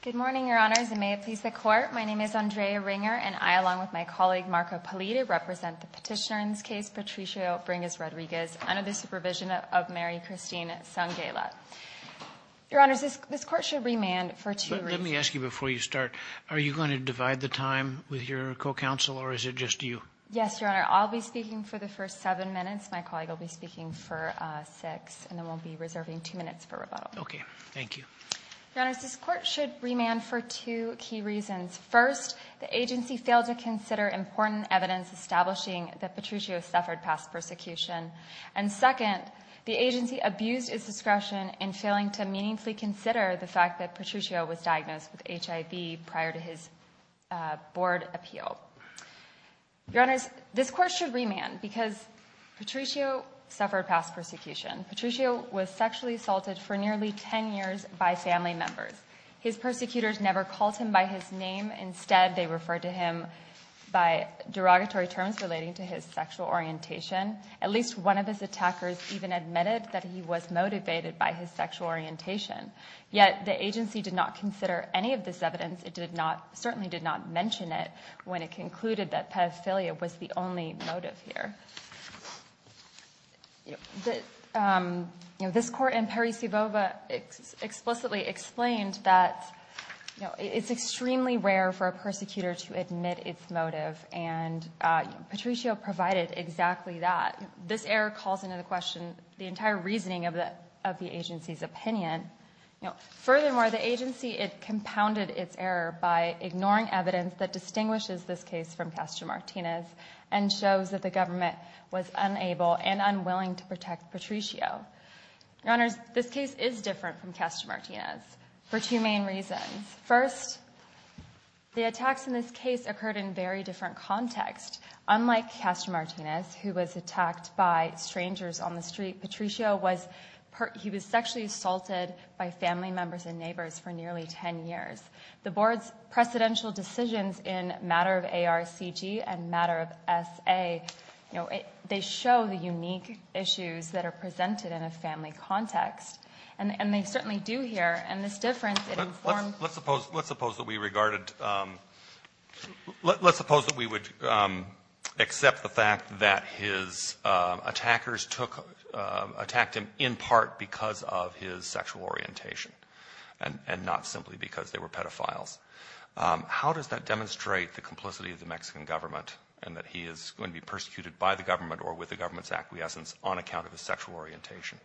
Good morning, Your Honors, and may it please the Court, my name is Andrea Ringer, and I, along with my colleague, Marco Pellitti, represent the petitioner in this case, Patricio Bringas-Rodriguez, under the supervision of Mary Christine Sangheila. Your Honors, this Court should remand for two reasons. Let me ask you before you start, are you going to divide the time with your co-counsel, or is it just you? Yes, Your Honor, I'll be speaking for the first seven minutes, my colleague will be speaking for six, and then we'll be reserving two minutes for rebuttal. Okay, thank you. Your Honors, this Court should remand for two key reasons. First, the agency failed to consider important evidence establishing that Patricio suffered past persecution, and second, the agency abused its discretion in failing to meaningfully consider the fact that Patricio was diagnosed with HIV prior to his board appeal. Your Honors, this Court should remand because Patricio suffered past persecution. Patricio was sexually assaulted for nearly ten years by family members. His persecutors never called him by his name, instead they referred to him by derogatory terms relating to his sexual orientation. At least one of his attackers even admitted that he was motivated by his sexual orientation. Yet, the agency did not consider any of this evidence, it did not, certainly did not mention it when it concluded that pedophilia was the only motive here. This Court in Parisi-Bova explicitly explained that it's extremely rare for a persecutor to admit its motive, and Patricio provided exactly that. This error calls into question the entire reasoning of the agency's opinion. Furthermore, the agency, it compounded its error by ignoring evidence that distinguishes this case from Castro-Martinez and shows that the government was unable and unwilling to protect Patricio. Your Honors, this case is different from Castro-Martinez for two main reasons. First, the attacks in this case occurred in very different context. Unlike Castro-Martinez, who was attacked by strangers on the street, Patricio was, he was sexually assaulted by family members and neighbors for nearly ten years. The Board's precedential decisions in matter of ARCG and matter of SA, you know, they show the unique issues that are presented in a family context. And they certainly do here. And this difference in form. Let's suppose, let's suppose that we regarded, let's suppose that we would accept the fact that his attackers took, attacked him in part because of his sexual orientation and not simply because they were pedophiles. How does that demonstrate the complicity of the Mexican government and that he is going to be persecuted by the government or with the government's acquiescence on account of his sexual orientation?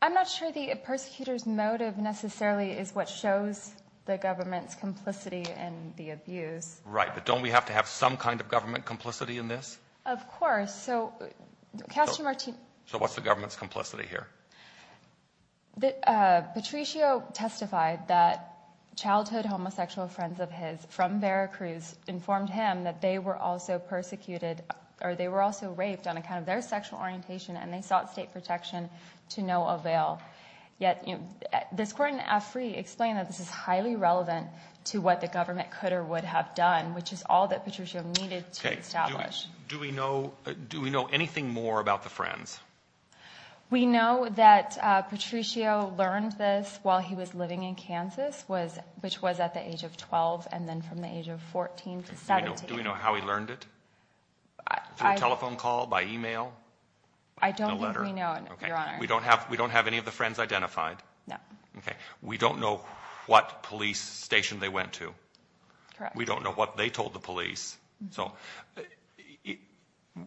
I'm not sure the persecutor's motive necessarily is what shows the government's complicity and the abuse. Right, but don't we have to have some kind of government complicity in this? Of course. So Castro-Martinez. So what's the government's complicity here? Patricio testified that childhood homosexual friends of his from Veracruz informed him that they were also persecuted or they were also raped on account of their sexual orientation and they sought state protection to no avail. Yet this court in AFRI explained that this is highly relevant to what the government could or would have done, which is all that Patricio needed to establish. Do we know, do we know anything more about the friends? We know that Patricio learned this while he was living in Kansas, which was at the age of 12 and then from the age of 14 to 17. Do we know how he learned it? Through a telephone call, by email? I don't think we know, Your Honor. We don't have any of the friends identified? No. Okay. We don't know what police station they went to? Correct. We don't know what they told the police? So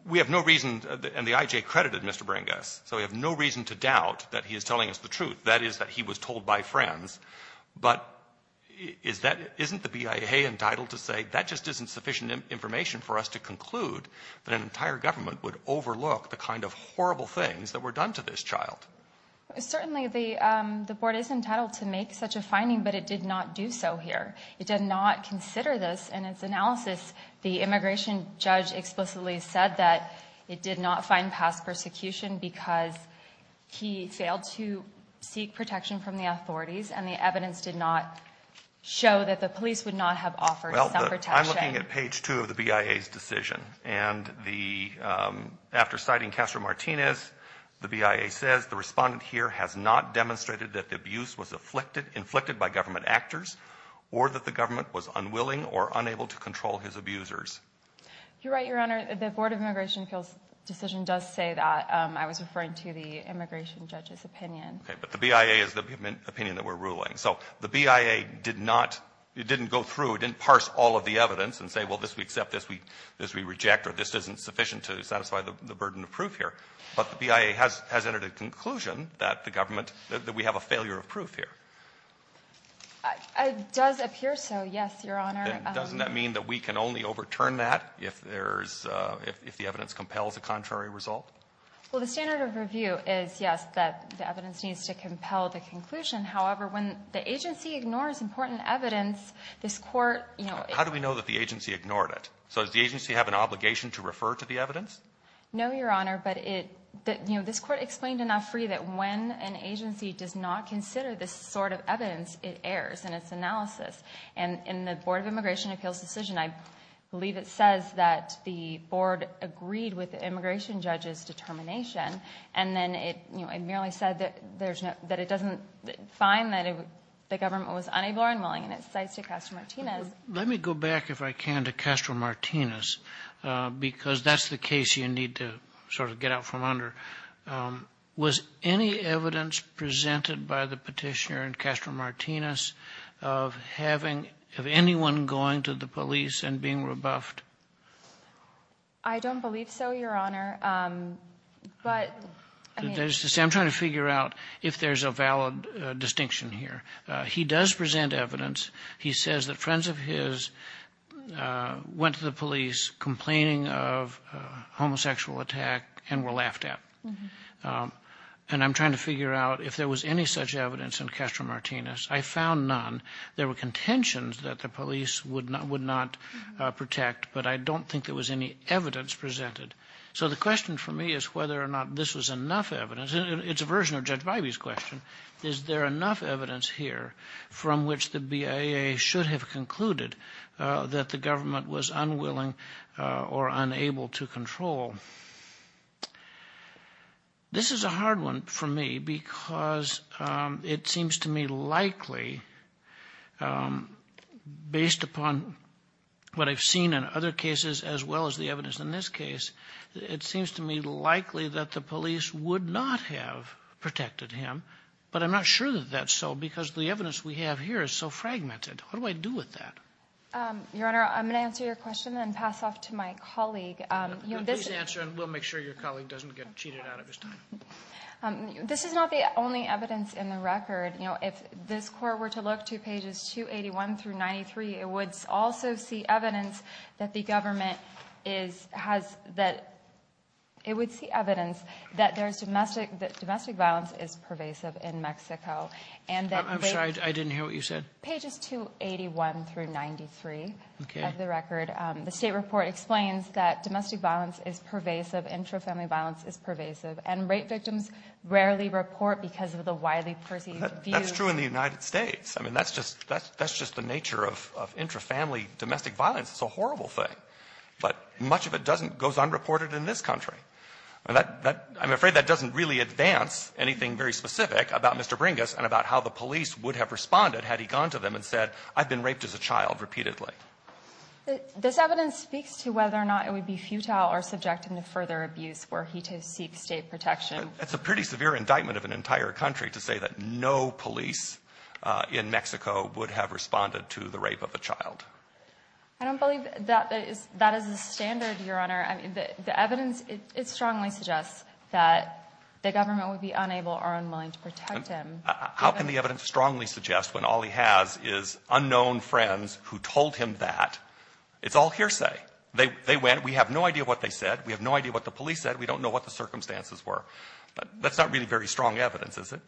we have no reason, and the IJ credited Mr. Brangess, so we have no reason to doubt that he is telling us the truth. That is that he was told by friends. But isn't the BIA entitled to say that just isn't sufficient information for us to conclude that an entire government would overlook the kind of horrible things that were done to this child? Certainly the board is entitled to make such a finding, but it did not do so here. It did not consider this in its analysis. The immigration judge explicitly said that it did not find past persecution because he failed to seek protection from the authorities, and the evidence did not show that the police would not have offered some protection. Well, I'm looking at page 2 of the BIA's decision, and after citing Castro Martinez, the BIA says, the respondent here has not demonstrated that the abuse was inflicted by government actors or that the government was unwilling or unable to control his abusers. You're right, Your Honor. The Board of Immigration Appeals decision does say that. I was referring to the immigration judge's opinion. Okay, but the BIA is the opinion that we're ruling. So the BIA did not go through, didn't parse all of the evidence and say, well, this we accept, this we reject, or this isn't sufficient to satisfy the burden of proof here. But the BIA has entered a conclusion that the government, that we have a failure of proof here. It does appear so, yes, Your Honor. Doesn't that mean that we can only overturn that if there's, if the evidence compels a contrary result? Well, the standard of review is, yes, that the evidence needs to compel the conclusion. However, when the agency ignores important evidence, this Court, you know, How do we know that the agency ignored it? So does the agency have an obligation to refer to the evidence? No, Your Honor. But it, you know, this Court explained enough for you that when an agency does not consider this sort of evidence, it errs in its analysis. And in the Board of Immigration Appeals decision, I believe it says that the Board agreed with the immigration judge's determination, and then it, you know, it merely said that there's no, that it doesn't find that the government was unable or unwilling, and it cites De Castro-Martinez. Let me go back, if I can, to Castro-Martinez, because that's the case you need to sort of get out from under. Was any evidence presented by the Petitioner in Castro-Martinez of having, of anyone going to the police and being rebuffed? I don't believe so, Your Honor. But, I mean, I'm trying to figure out if there's a valid distinction here. He does present evidence. He says that friends of his went to the police complaining of a homosexual attack and were laughed at. And I'm trying to figure out if there was any such evidence in Castro-Martinez. I found none. There were contentions that the police would not protect, but I don't think there was any evidence presented. So the question for me is whether or not this was enough evidence. It's a version of Judge Bybee's question. Is there enough evidence here from which the BIA should have concluded that the government was unwilling or unable to control? This is a hard one for me because it seems to me likely, based upon what I've seen in other cases as well as the evidence in this case, it seems to me likely that the police would not have protected him. But I'm not sure that that's so because the evidence we have here is so fragmented. What do I do with that? Your Honor, I'm going to answer your question and then pass off to my colleague. Please answer and we'll make sure your colleague doesn't get cheated out of his time. This is not the only evidence in the record. You know, if this court were to look to pages 281 through 93, it would also see evidence that the government is, has, that, it would see evidence that there's domestic, that domestic violence is pervasive in Mexico. I'm sorry, I didn't hear what you said. Pages 281 through 93 of the record. The state report explains that domestic violence is pervasive, intrafamily violence is pervasive, and rape victims rarely report because of the widely perceived views. That's true in the United States. I mean, that's just, that's just the nature of, of intrafamily domestic violence. It's a horrible thing. But much of it doesn't, goes unreported in this country. And that, that, I'm afraid that doesn't really advance anything very specific about Mr. Bringas and about how the police would have responded had he gone to them and said, I've been raped as a child repeatedly. This evidence speaks to whether or not it would be futile or subject him to further abuse were he to seek state protection. It's a pretty severe indictment of an entire country to say that no police in Mexico would have responded to the rape of a child. I don't believe that is, that is the standard, Your Honor. I mean, the evidence, it strongly suggests that the government would be unable or unwilling to protect him. How can the evidence strongly suggest when all he has is unknown friends who told him that? It's all hearsay. They, they went. We have no idea what they said. We have no idea what the police said. We don't know what the circumstances were. But that's not really very strong evidence, is it?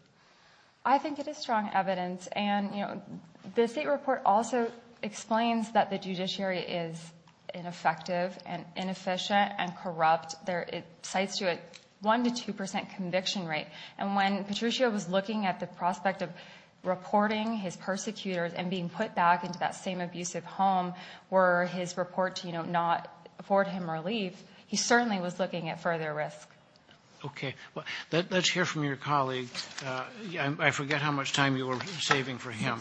I think it is strong evidence. And, you know, the State report also explains that the judiciary is ineffective and inefficient and corrupt. There, it cites to it 1 to 2 percent conviction rate. And when Patricio was looking at the prospect of reporting his persecutors and being put back into that same abusive home, were his report to, you know, not afford him relief, he certainly was looking at further risk. Okay. Let's hear from your colleague. I forget how much time you were saving for him.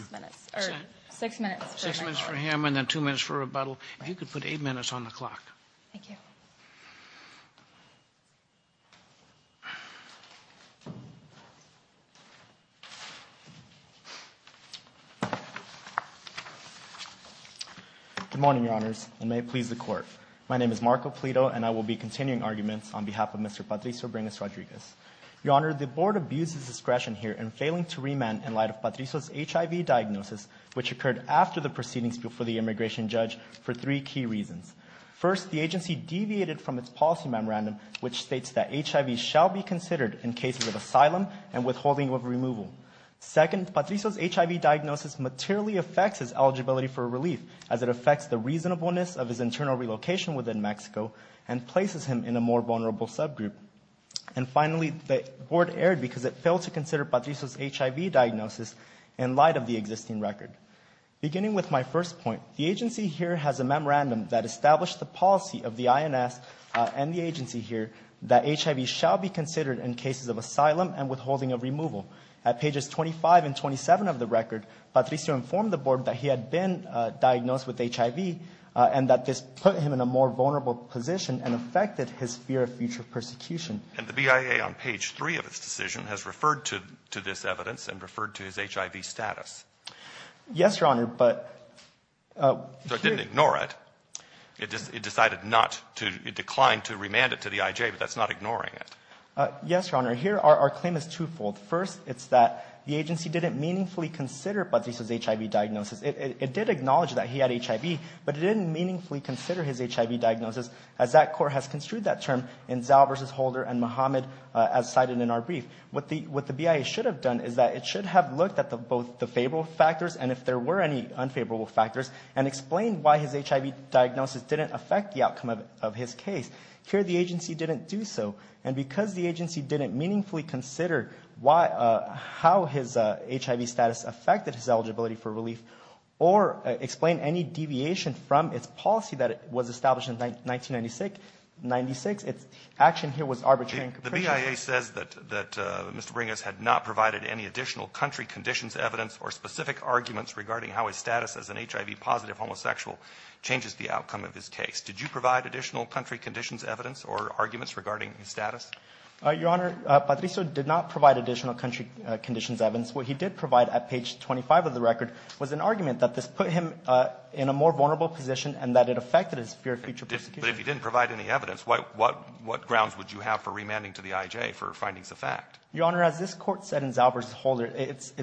Six minutes. Six minutes for him and then two minutes for rebuttal. You could put eight minutes on the clock. Thank you. Good morning, Your Honors, and may it please the Court. My name is Marco Pleto, and I will be continuing arguments on behalf of Mr. Patricio Bringas Rodriguez. Your Honor, the Board abuses discretion here in failing to remand in light of Patricio's HIV diagnosis, which occurred after the proceedings before the immigration judge for three key reasons. First, the agency deviated from its policy memorandum, which states that HIV shall be considered in cases of asylum and withholding of removal. Second, Patricio's HIV diagnosis materially affects his eligibility for relief, as it affects the reasonableness of his internal relocation within Mexico and places him in a more vulnerable subgroup. And finally, the Board erred because it failed to consider Patricio's HIV diagnosis in light of the existing record. Beginning with my first point, the agency here has a memorandum that established the policy of the INS and the agency here that HIV shall be considered in cases of asylum and withholding of removal. At pages 25 and 27 of the record, Patricio informed the Board that he had been diagnosed with HIV and that this put him in a more vulnerable position and affected his fear of future persecution. And the BIA, on page 3 of its decision, has referred to this evidence and referred to his HIV status. Yes, Your Honor, but... So it didn't ignore it. It decided not to decline to remand it to the IJ, but that's not ignoring it. Yes, Your Honor. Here, our claim is twofold. First, it's that the agency didn't meaningfully consider Patricio's HIV diagnosis. It did acknowledge that he had HIV, but it didn't meaningfully consider his HIV diagnosis, as that court has construed that term in Zal versus Holder and Mohammed, as cited in our brief. What the BIA should have done is that it should have looked at both the favorable factors and if there were any unfavorable factors, and explained why his HIV diagnosis didn't affect the outcome of his case. Here, the agency didn't do so. And because the agency didn't meaningfully consider how his HIV status affected his eligibility for relief or explain any deviation from its policy that was established in 1996, its action here was arbitrary and capricious. The BIA says that Mr. Bringas had not provided any additional country conditions evidence or specific arguments regarding how his status as an HIV-positive homosexual changes the outcome of his case. Did you provide additional country conditions evidence or arguments regarding his status? Your Honor, Patricio did not provide additional country conditions evidence. What he did provide at page 25 of the record was an argument that this put him in a more vulnerable position and that it affected his fear of future prosecution. But if he didn't provide any evidence, what grounds would you have for remanding to the IJ for findings of fact? Your Honor, as this court said in Zal versus Holder, it's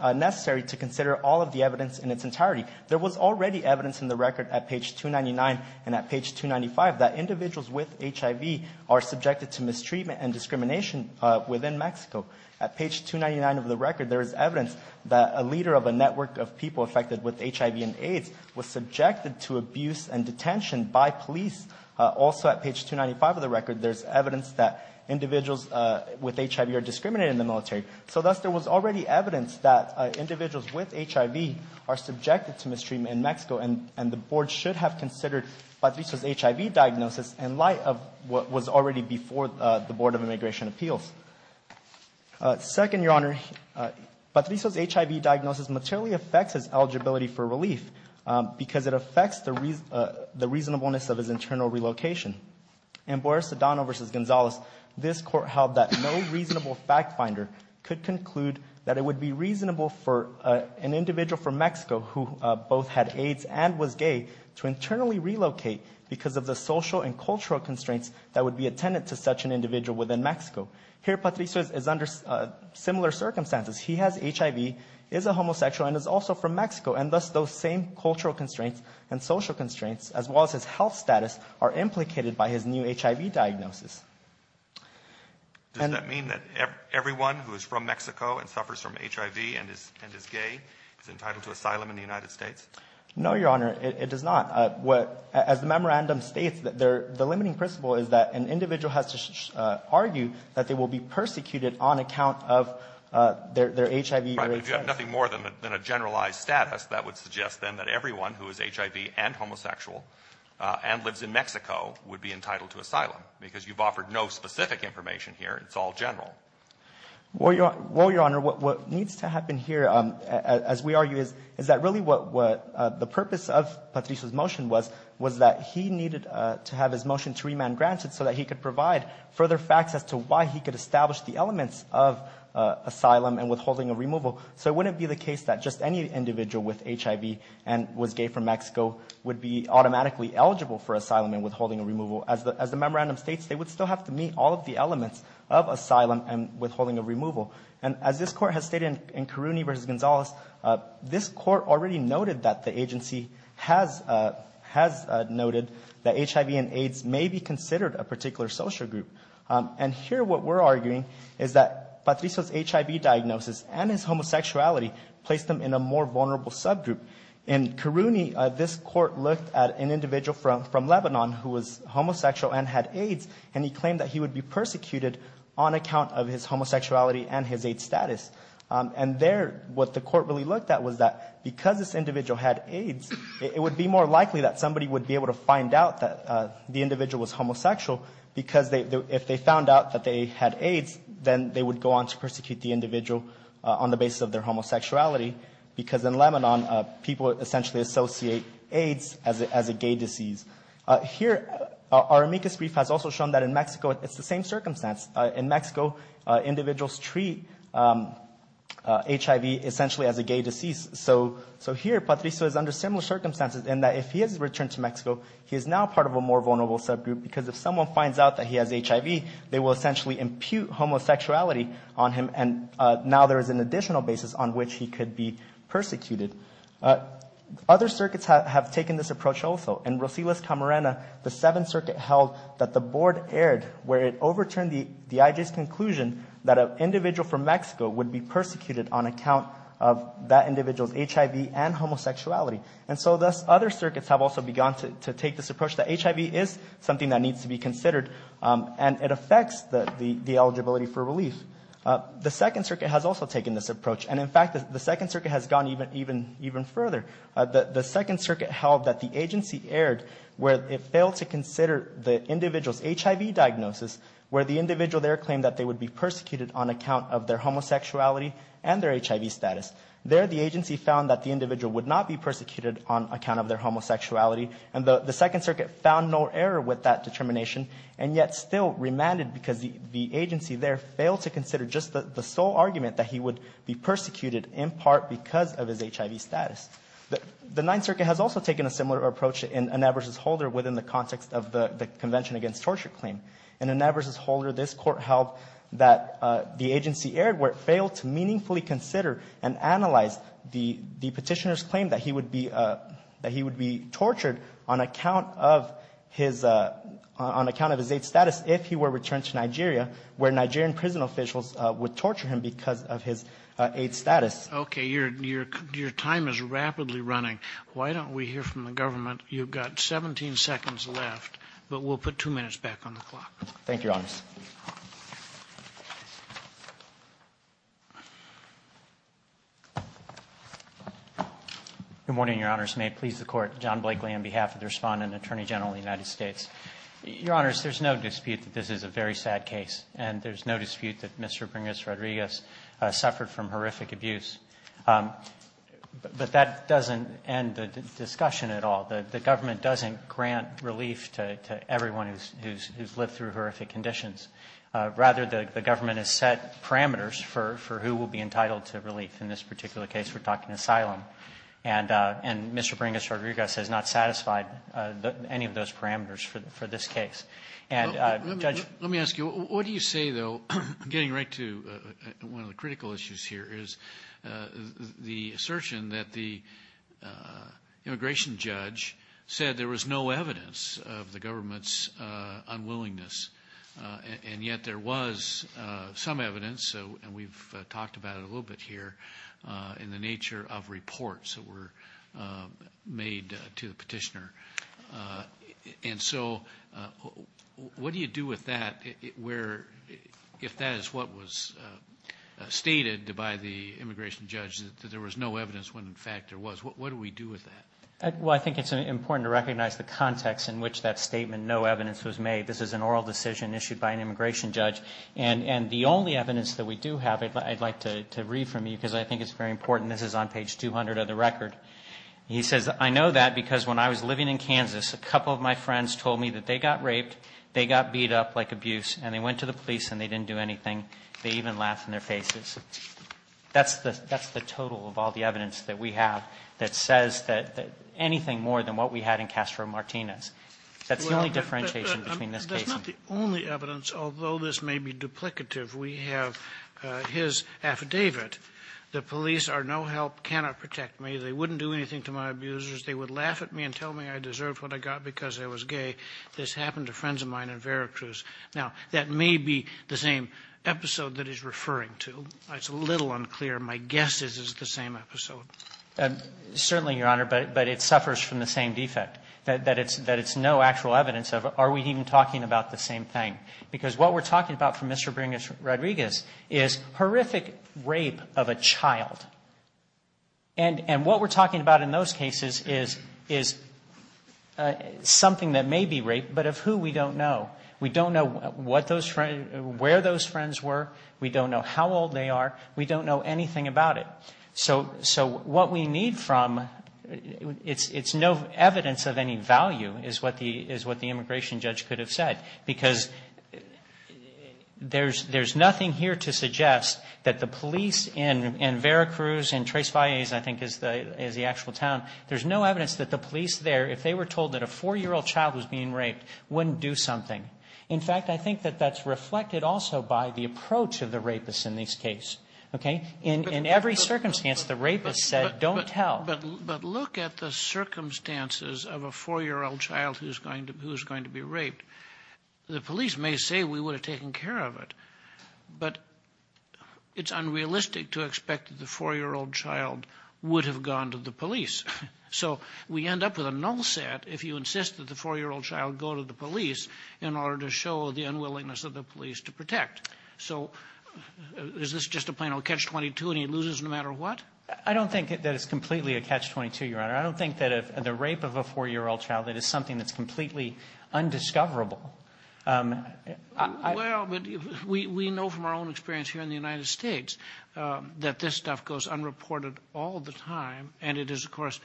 necessary to consider all of the evidence in its entirety. There was already evidence in the record at page 299 and at page 295 that individuals with HIV are subjected to mistreatment and discrimination within Mexico. At page 299 of the record, there is evidence that a leader of a network of people affected with HIV and AIDS was subjected to abuse and detention by police. Also at page 295 of the record, there's evidence that individuals with HIV are discriminated in the military. So thus, there was already evidence that individuals with HIV are subjected to mistreatment in Mexico and the board should have considered Patricio's HIV diagnosis in light of what was already before the Board of Immigration Appeals. Second, Your Honor, Patricio's HIV diagnosis materially affects his eligibility for relief because it affects the reasonableness of his internal relocation. In Boyer-Sedano versus Gonzalez, this court held that no reasonable fact finder could conclude that it would be reasonable for an individual from Mexico who both had AIDS and was gay to internally relocate because of the social and cultural constraints that would be attendant to such an individual within Mexico. Here, Patricio is under similar circumstances. He has HIV, is a homosexual, and is also from Mexico. And thus, those same cultural constraints and social constraints, as well as his health status, are implicated by his new HIV diagnosis. Does that mean that everyone who is from Mexico and suffers from HIV and is gay is entitled to asylum in the United States? No, Your Honor, it does not. As the memorandum states, the limiting principle is that an individual has to argue that they will be persecuted on account of their HIV or AIDS status. Right, but if you have nothing more than a generalized status, that would suggest then that everyone who is HIV and homosexual and lives in Mexico would be entitled to asylum because you've offered no specific information here. It's all general. Well, Your Honor, what needs to happen here, as we argue, is that really what the purpose of Patricio's motion was, was that he needed to have his motion to remand granted so that he could provide further facts as to why he could establish the elements of asylum and withholding of removal. So it wouldn't be the case that just any individual with HIV and was gay from Mexico would be automatically eligible for asylum and withholding of removal. As the memorandum states, they would still have to meet all of the elements of asylum and withholding of removal. And as this Court has stated in Caruni v. Gonzalez, this Court already noted that the agency has noted that HIV and AIDS may be considered a particular social group. And here what we're arguing is that Patricio's HIV diagnosis and his homosexuality placed him in a more vulnerable subgroup. In Caruni, this Court looked at an individual from Lebanon who was homosexual and had AIDS, and he claimed that he would be persecuted on account of his homosexuality and his AIDS status. And there what the Court really looked at was that because this individual had AIDS, it would be more likely that somebody would be able to find out that the individual was homosexual because if they found out that they had AIDS, then they would go on to persecute the individual on the basis of their homosexuality because in Lebanon people essentially associate AIDS as a gay disease. Here our amicus brief has also shown that in Mexico it's the same circumstance. In Mexico, individuals treat HIV essentially as a gay disease. So here Patricio is under similar circumstances in that if he is returned to Mexico, he is now part of a more vulnerable subgroup because if someone finds out that he has HIV, they will essentially impute homosexuality on him, and now there is an additional basis on which he could be persecuted. Other circuits have taken this approach also. In Rosilas Camarena, the Seventh Circuit held that the Board erred where it overturned the IJ's conclusion that an individual from Mexico would be persecuted on account of that individual's HIV and homosexuality. And so thus other circuits have also begun to take this approach that HIV is something that needs to be considered, and it affects the eligibility for relief. The Second Circuit has also taken this approach, and in fact the Second Circuit has gone even further. The Second Circuit held that the agency erred where it failed to consider the individual's HIV diagnosis where the individual there claimed that they would be persecuted on account of their homosexuality and their HIV status. There the agency found that the individual would not be persecuted on account of their homosexuality, and the Second Circuit found no error with that determination, and yet still remanded because the agency there failed to consider just the sole argument that he would be persecuted in part because of his HIV status. The Ninth Circuit has also taken a similar approach in Ineb versus Holder within the context of the Convention Against Torture claim. In Ineb versus Holder, this Court held that the agency erred where it failed to meaningfully consider and analyze the petitioner's claim that he would be tortured on account of his AIDS status if he were returned to Nigeria, where Nigerian prison officials would torture him because of his AIDS status. Okay, your time is rapidly running. Why don't we hear from the government? You've got 17 seconds left, but we'll put two minutes back on the clock. Thank you, Your Honors. Good morning, Your Honors. May it please the Court. John Blakely on behalf of the Respondent and Attorney General of the United States. Your Honors, there's no dispute that this is a very sad case, and there's no dispute that Mr. Pringles Rodriguez suffered from horrific abuse. But that doesn't end the discussion at all. The government doesn't grant relief to everyone who's lived through horrific conditions. Rather, the government has set parameters for who will be entitled to relief. In this particular case, we're talking asylum. And Mr. Pringles Rodriguez has not satisfied any of those parameters for this case. And, Judge ---- Let me ask you, what do you say, though, getting right to one of the critical issues here, is the assertion that the immigration judge said there was no evidence of the government's unwillingness. And yet there was some evidence, and we've talked about it a little bit here, in the nature of reports that were made to the petitioner. And so what do you do with that if that is what was stated by the immigration judge, that there was no evidence when, in fact, there was? What do we do with that? Well, I think it's important to recognize the context in which that statement, no evidence was made. This is an oral decision issued by an immigration judge. And the only evidence that we do have, I'd like to read from you because I think it's very important. This is on page 200 of the record. He says, I know that because when I was living in Kansas, a couple of my friends told me that they got raped, they got beat up like abuse, and they went to the police and they didn't do anything. They even laughed in their faces. That's the total of all the evidence that we have that says anything more than what we had in Castro Martinez. That's the only differentiation between this case and ---- Well, that's not the only evidence. Although this may be duplicative, we have his affidavit, the police are no help, cannot protect me, they wouldn't do anything to my abusers, they would laugh at me and tell me I deserved what I got because I was gay. This happened to friends of mine in Veracruz. Now, that may be the same episode that he's referring to. It's a little unclear. My guess is it's the same episode. Certainly, Your Honor, but it suffers from the same defect, that it's no actual evidence of are we even talking about the same thing. Because what we're talking about from Mr. Rodriguez is horrific rape of a child. And what we're talking about in those cases is something that may be rape, but of who we don't know. We don't know where those friends were. We don't know how old they are. We don't know anything about it. So what we need from, it's no evidence of any value is what the immigration judge could have said. Because there's nothing here to suggest that the police in Veracruz and Tres Falles, I think, is the actual town. There's no evidence that the police there, if they were told that a 4-year-old child was being raped, wouldn't do something. In fact, I think that that's reflected also by the approach of the rapists in these cases. Okay? In every circumstance, the rapists said don't tell. But look at the circumstances of a 4-year-old child who's going to be raped. The police may say we would have taken care of it. But it's unrealistic to expect that the 4-year-old child would have gone to the police. So we end up with a null set if you insist that the 4-year-old child go to the police in order to show the unwillingness of the police to protect. So is this just a plain old catch-22 and he loses no matter what? I don't think that it's completely a catch-22, Your Honor. I don't think that the rape of a 4-year-old child is something that's completely undiscoverable. Well, we know from our own experience here in the United States that this stuff goes unreported all the time. And it is, of course,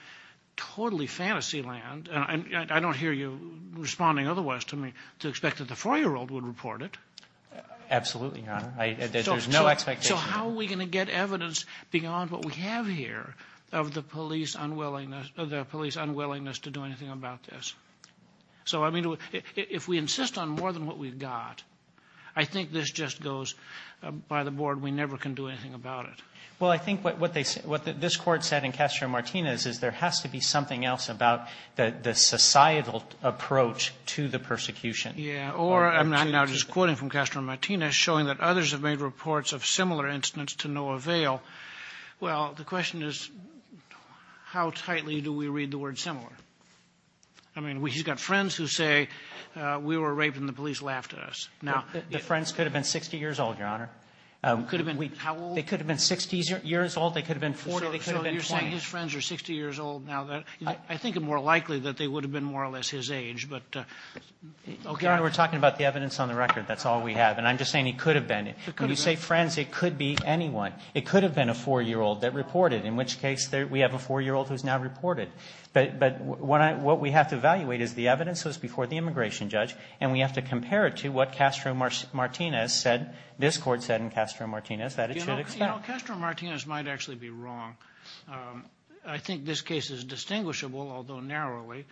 totally fantasy land. And I don't hear you responding otherwise to me to expect that the 4-year-old would report it. Absolutely, Your Honor. There's no expectation. So how are we going to get evidence beyond what we have here of the police unwillingness to do anything about this? So, I mean, if we insist on more than what we've got, I think this just goes by the Board, we never can do anything about it. Well, I think what this Court said in Castro-Martinez is there has to be something else about the societal approach to the persecution. Yeah. Or I'm now just quoting from Castro-Martinez, showing that others have made reports of similar incidents to no avail. Well, the question is, how tightly do we read the word similar? I mean, he's got friends who say, we were raped and the police laughed at us. The friends could have been 60 years old, Your Honor. Could have been how old? They could have been 60 years old. They could have been 40. So you're saying his friends are 60 years old now. I think it's more likely that they would have been more or less his age. Your Honor, we're talking about the evidence on the record. That's all we have. And I'm just saying it could have been. When you say friends, it could be anyone. It could have been a 4-year-old that reported, in which case we have a 4-year-old who's now reported. But what we have to evaluate is the evidence that was before the immigration judge, and we have to compare it to what Castro-Martinez said, this Court said in Castro-Martinez, that it should expel. You know, Castro-Martinez might actually be wrong. I think this case is distinguishable, although narrowly.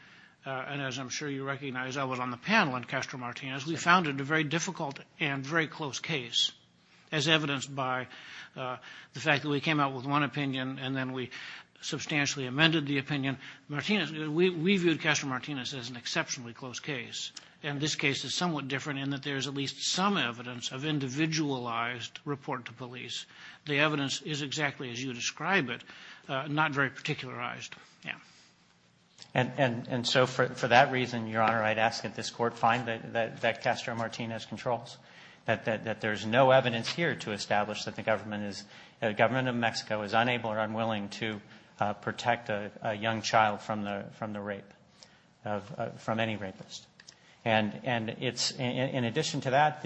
And as I'm sure you recognize, I was on the panel in Castro-Martinez. We found it a very difficult and very close case, as evidenced by the fact that we came out with one opinion and then we substantially amended the opinion. We viewed Castro-Martinez as an exceptionally close case, and this case is somewhat different in that there is at least some evidence of individualized report to police. The evidence is exactly as you describe it, not very particularized. And so for that reason, Your Honor, I'd ask that this Court find that Castro-Martinez controls, that there's no evidence here to establish that the government of Mexico is unable or unwilling to protect a young child from the rape, from any rapist. And in addition to that,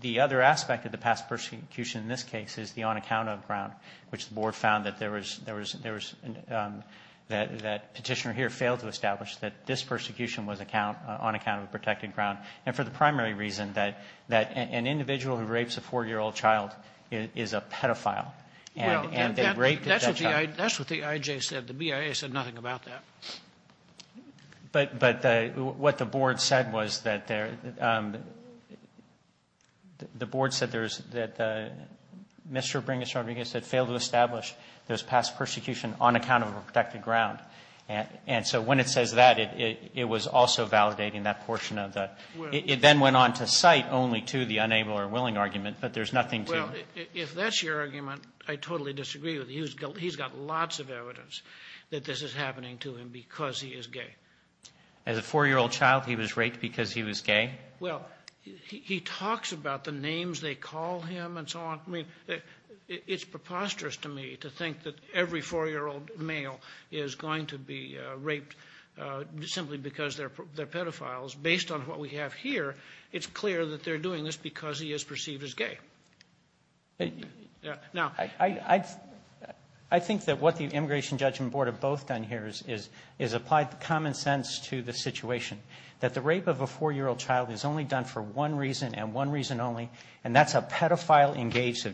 the other aspect of the past prosecution in this case is the on-account-of ground, which the Board found that Petitioner here failed to establish, that this persecution was on account of a protected ground, and for the primary reason that an individual who rapes a 4-year-old child is a pedophile. Well, that's what the IJ said. The BIA said nothing about that. But what the Board said was that the Board said there's, that Mr. Bringis-Rodriguez said failed to establish there's past persecution on account of a protected ground. And so when it says that, it was also validating that portion of the ---- It then went on to cite only to the unable or willing argument, but there's nothing to ---- Well, if that's your argument, I totally disagree with you. He's got lots of evidence that this is happening to him because he is gay. As a 4-year-old child, he was raped because he was gay? Well, he talks about the names they call him and so on. I mean, it's preposterous to me to think that every 4-year-old male is going to be raped simply because they're pedophiles. Based on what we have here, it's clear that they're doing this because he is perceived as gay. Now, I think that what the Immigration Judgment Board have both done here is applied common sense to the situation, that the rape of a 4-year-old child is only done for one reason and one reason only, and that's a pedophile engaged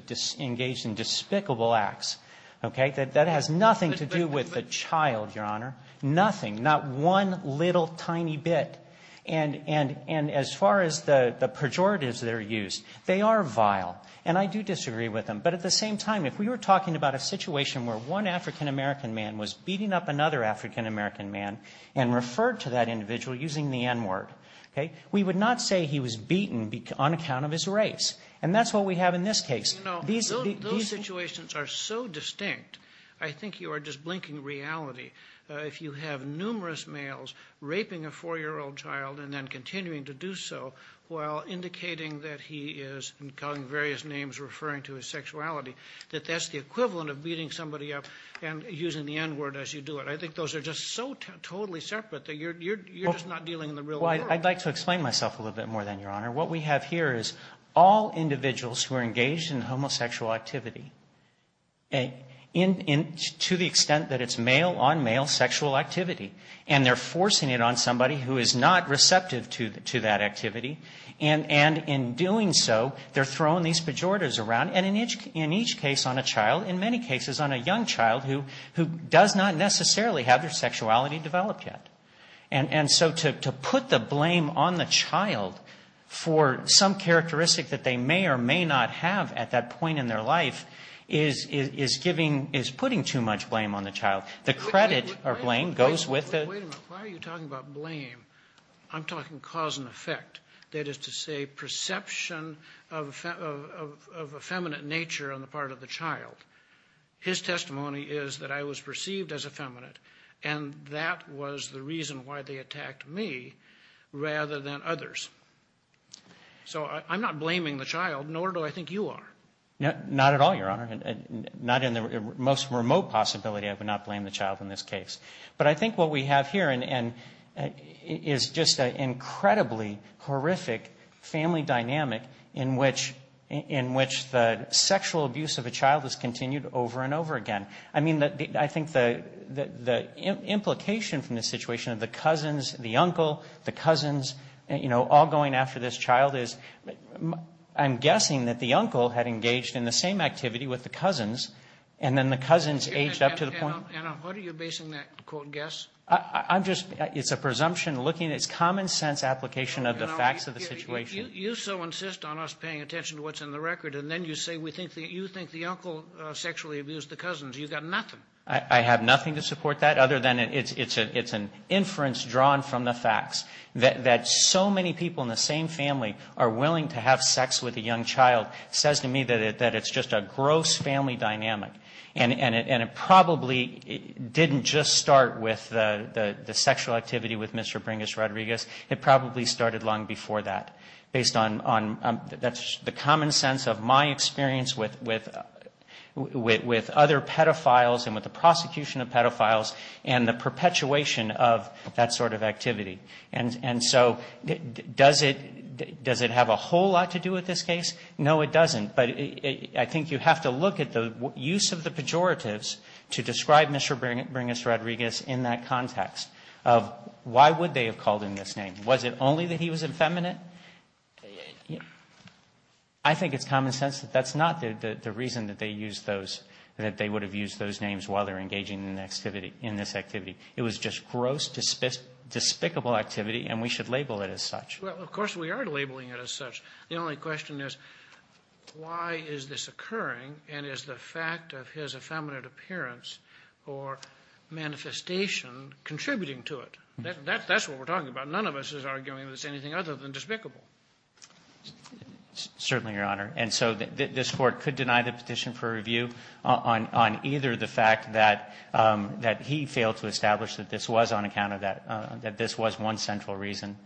in despicable acts. Okay? That has nothing to do with the child, Your Honor. Nothing. Not one little tiny bit. And as far as the pejoratives that are used, they are vile. And I do disagree with them. But at the same time, if we were talking about a situation where one African-American man was beating up another African-American man and referred to that individual using the N-word, okay, we would not say he was beaten on account of his race. And that's what we have in this case. You know, those situations are so distinct, I think you are just blinking reality. If you have numerous males raping a 4-year-old child and then continuing to do so while indicating that he is, and calling various names referring to his sexuality, that that's the equivalent of beating somebody up and using the N-word as you do it. I think those are just so totally separate that you're just not dealing in the real world. Well, I'd like to explain myself a little bit more then, Your Honor. What we have here is all individuals who are engaged in homosexual activity, to the extent that it's male-on-male sexual activity. And they're forcing it on somebody who is not receptive to that activity. And in doing so, they're throwing these pejoratives around, and in each case on a child, in many cases on a young child who does not necessarily have their sexuality developed yet. And so to put the blame on the child for some characteristic that they may or may not have at that point in their life is putting too much blame on the child. The credit or blame goes with the... Wait a minute. Why are you talking about blame? I'm talking cause and effect. That is to say, perception of effeminate nature on the part of the child. His testimony is that I was perceived as effeminate. And that was the reason why they attacked me rather than others. So I'm not blaming the child, nor do I think you are. Not at all, Your Honor. Not in the most remote possibility I would not blame the child in this case. But I think what we have here is just an incredibly horrific family dynamic in which the sexual abuse of a child is continued over and over again. I mean, I think the implication from this situation of the cousins, the uncle, the cousins, you know, all going after this child is, I'm guessing that the uncle had engaged in the same activity with the cousins and then the cousins aged up to the point... Anna, what are you basing that quote guess? I'm just, it's a presumption looking, it's common sense application of the facts of the situation. You so insist on us paying attention to what's in the record and then you say you think the uncle sexually abused the cousins. You've got nothing. I have nothing to support that other than it's an inference drawn from the facts that so many people in the same family are willing to have sex with a young child. It says to me that it's just a gross family dynamic. And it probably didn't just start with the sexual activity with Mr. Bringus Rodriguez. It probably started long before that. That's the common sense of my experience with other pedophiles and with the prosecution of pedophiles and the perpetuation of that sort of activity. And so does it have a whole lot to do with this case? No, it doesn't. But I think you have to look at the use of the pejoratives to describe Mr. Bringus Rodriguez in that context of why would they have called him this name? Was it only that he was effeminate? I think it's common sense that that's not the reason that they used those, that they would have used those names while they were engaging in this activity. It was just gross, despicable activity, and we should label it as such. Well, of course we are labeling it as such. The only question is why is this occurring, and is the fact of his effeminate appearance or manifestation contributing to it? That's what we're talking about. None of us is arguing that it's anything other than despicable. Certainly, Your Honor. And so this Court could deny the petition for review on either the fact that he failed to establish that this was on account of that, that this was one central reason,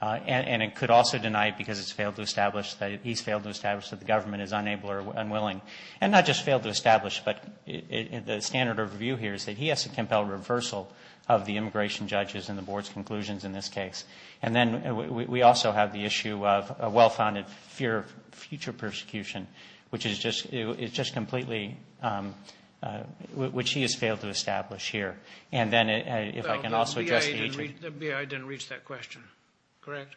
and it could also deny it because it's failed to establish that he's failed to establish that the government is unable or unwilling. And not just failed to establish, but the standard of review here is that he has to in the Board's conclusions in this case. And then we also have the issue of a well-founded fear of future persecution, which is just completely – which he has failed to establish here. And then if I can also address the issue – Well, the BIA didn't reach that question, correct?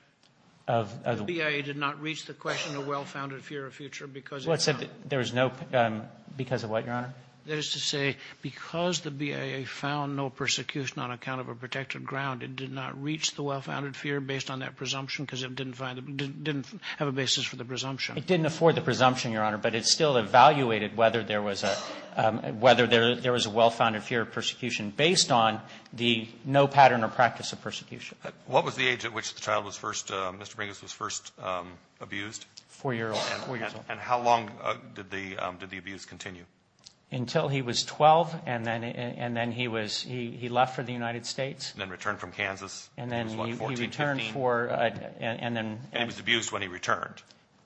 The BIA did not reach the question of well-founded fear of future because – That is to say, because the BIA found no persecution on account of a protected ground, it did not reach the well-founded fear based on that presumption because it didn't find – didn't have a basis for the presumption. It didn't afford the presumption, Your Honor, but it still evaluated whether there was a – whether there was a well-founded fear of persecution based on the no pattern or practice of persecution. What was the age at which the child was first – Mr. Brinkus was first abused? Four-year-old and four-year-old. And how long did the abuse continue? Until he was 12, and then he was – he left for the United States. And then returned from Kansas when he was what, 14, 15? And then he returned for – and then – And he was abused when he returned?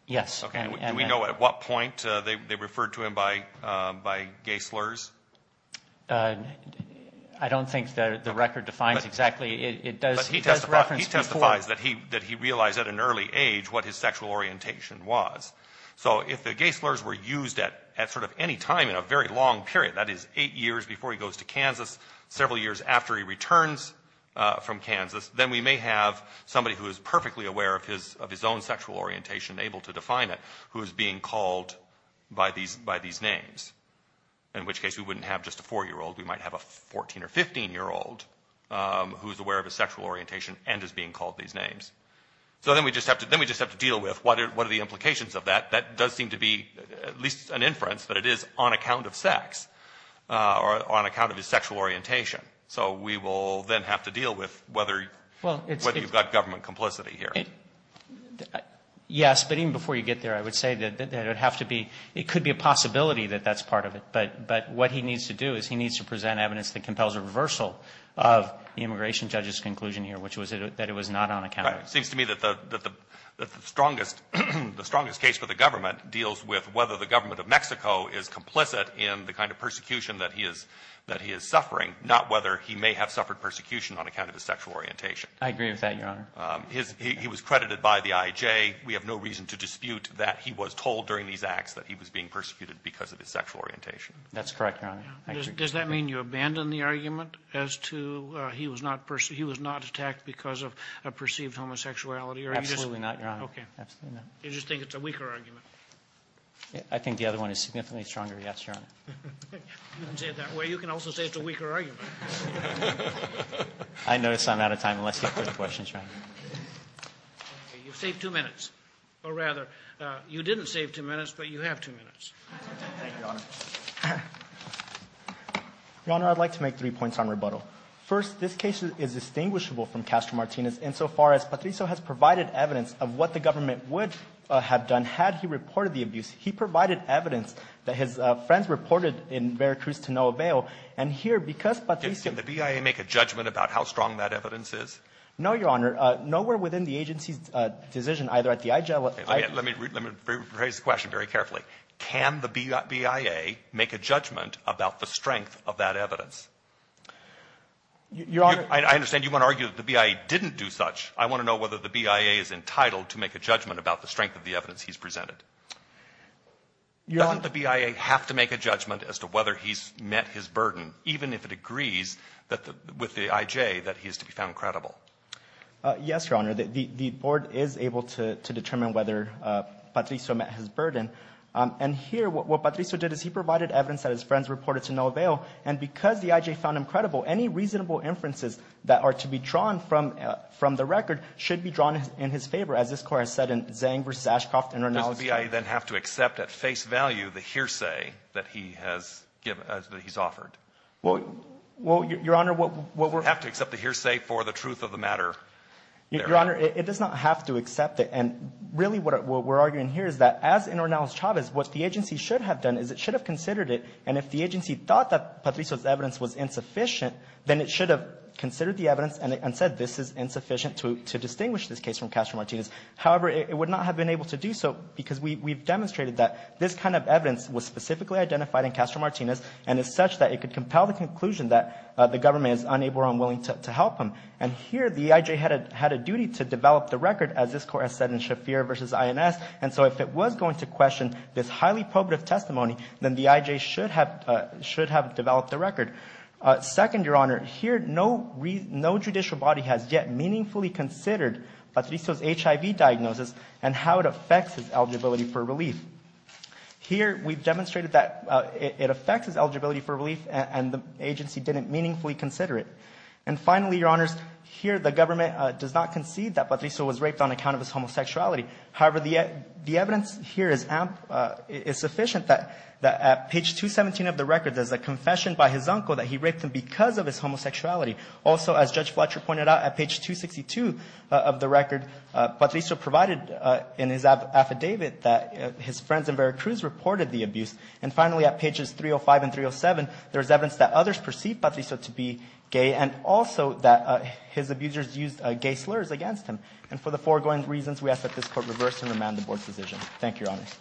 Yes. Okay. Do we know at what point they referred to him by gay slurs? I don't think the record defines exactly. It does reference before – But he testifies that he realized at an early age what his sexual orientation was. So if the gay slurs were used at sort of any time in a very long period, that is, eight years before he goes to Kansas, several years after he returns from Kansas, then we may have somebody who is perfectly aware of his own sexual orientation, able to define it, who is being called by these names, in which case we wouldn't have just a four-year-old. We might have a 14- or 15-year-old who is aware of his sexual orientation and is being called these names. So then we just have to deal with what are the implications of that. That does seem to be at least an inference that it is on account of sex, or on account of his sexual orientation. So we will then have to deal with whether you've got government complicity here. Yes. But even before you get there, I would say that it would have to be – it could be a possibility that that's part of it. But what he needs to do is he needs to present evidence that compels a reversal of the immigration judge's conclusion here, which was that it was not on account of his sexual orientation. It seems to me that the strongest case for the government deals with whether the government of Mexico is complicit in the kind of persecution that he is suffering, not whether he may have suffered persecution on account of his sexual orientation. I agree with that, Your Honor. He was credited by the IJ. We have no reason to dispute that he was told during these acts that he was being persecuted because of his sexual orientation. That's correct, Your Honor. Does that mean you abandon the argument as to he was not attacked because of a perceived homosexuality? Absolutely not, Your Honor. Okay. You just think it's a weaker argument? I think the other one is significantly stronger, yes, Your Honor. You can say it that way. You can also say it's a weaker argument. I notice I'm out of time, unless you have further questions, Your Honor. Okay. You've saved two minutes. Or rather, you didn't save two minutes, but you have two minutes. Thank you, Your Honor. Your Honor, I'd like to make three points on rebuttal. First, this case is distinguishable from Castro-Martinez insofar as Patricio has provided evidence of what the government would have done had he reported the abuse. He provided evidence that his friends reported in Veracruz to no avail. And here, because Patricio ---- Can the BIA make a judgment about how strong that evidence is? No, Your Honor. Nowhere within the agency's decision, either at the IJ or at the ---- Let me raise the question very carefully. Can the BIA make a judgment about the strength of that evidence? Your Honor ---- I understand you want to argue that the BIA didn't do such. I want to know whether the BIA is entitled to make a judgment about the strength of the evidence he's presented. Doesn't the BIA have to make a judgment as to whether he's met his burden, even if it agrees with the IJ that he is to be found credible? Yes, Your Honor. The board is able to determine whether Patricio met his burden. And here, what Patricio did is he provided evidence that his friends reported to no avail. And because the IJ found him credible, any reasonable inferences that are to be drawn from the record should be drawn in his favor, as this Court has said in Zhang v. Ashcroft and Rinaldi. Does the BIA then have to accept at face value the hearsay that he has given or that he's offered? Well, Your Honor, what we're ---- Have to accept the hearsay for the truth of the matter. Your Honor, it does not have to accept it. And really what we're arguing here is that as in Ornelas-Chavez, what the agency should have done is it should have considered it. And if the agency thought that Patricio's evidence was insufficient, then it should have considered the evidence and said this is insufficient to distinguish this case from Castro-Martinez. However, it would not have been able to do so because we've demonstrated that this kind of evidence was specifically identified in Castro-Martinez and is such that it could compel the conclusion that the government is unable or unwilling to help him. And here the EIJ had a duty to develop the record, as this Court has said in Shafir v. INS. And so if it was going to question this highly probative testimony, then the EIJ should have developed the record. Second, Your Honor, here no judicial body has yet meaningfully considered Patricio's HIV diagnosis and how it affects his eligibility for relief. Here we've demonstrated that it affects his eligibility for relief and the agency didn't meaningfully consider it. And finally, Your Honors, here the government does not concede that Patricio was raped on account of his homosexuality. However, the evidence here is sufficient that at page 217 of the record, there's a confession by his uncle that he raped him because of his homosexuality. Also, as Judge Fletcher pointed out, at page 262 of the record, Patricio provided in his affidavit that his friends in Veracruz reported the abuse. And finally, at pages 305 and 307, there's evidence that others perceived Patricio to be gay and also that his abusers used gay slurs against him. And for the foregoing reasons, we ask that this Court reverse and remand the Board's decision. Thank you, Your Honors.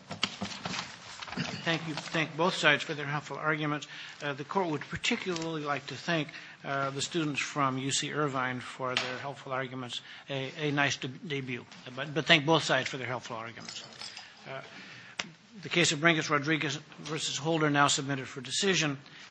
Thank you. Thank both sides for their helpful arguments. The Court would particularly like to thank the students from UC Irvine for their helpful arguments. A nice debut. But thank both sides for their helpful arguments. The case of Brinkus-Rodriguez v. Holder now submitted for decision.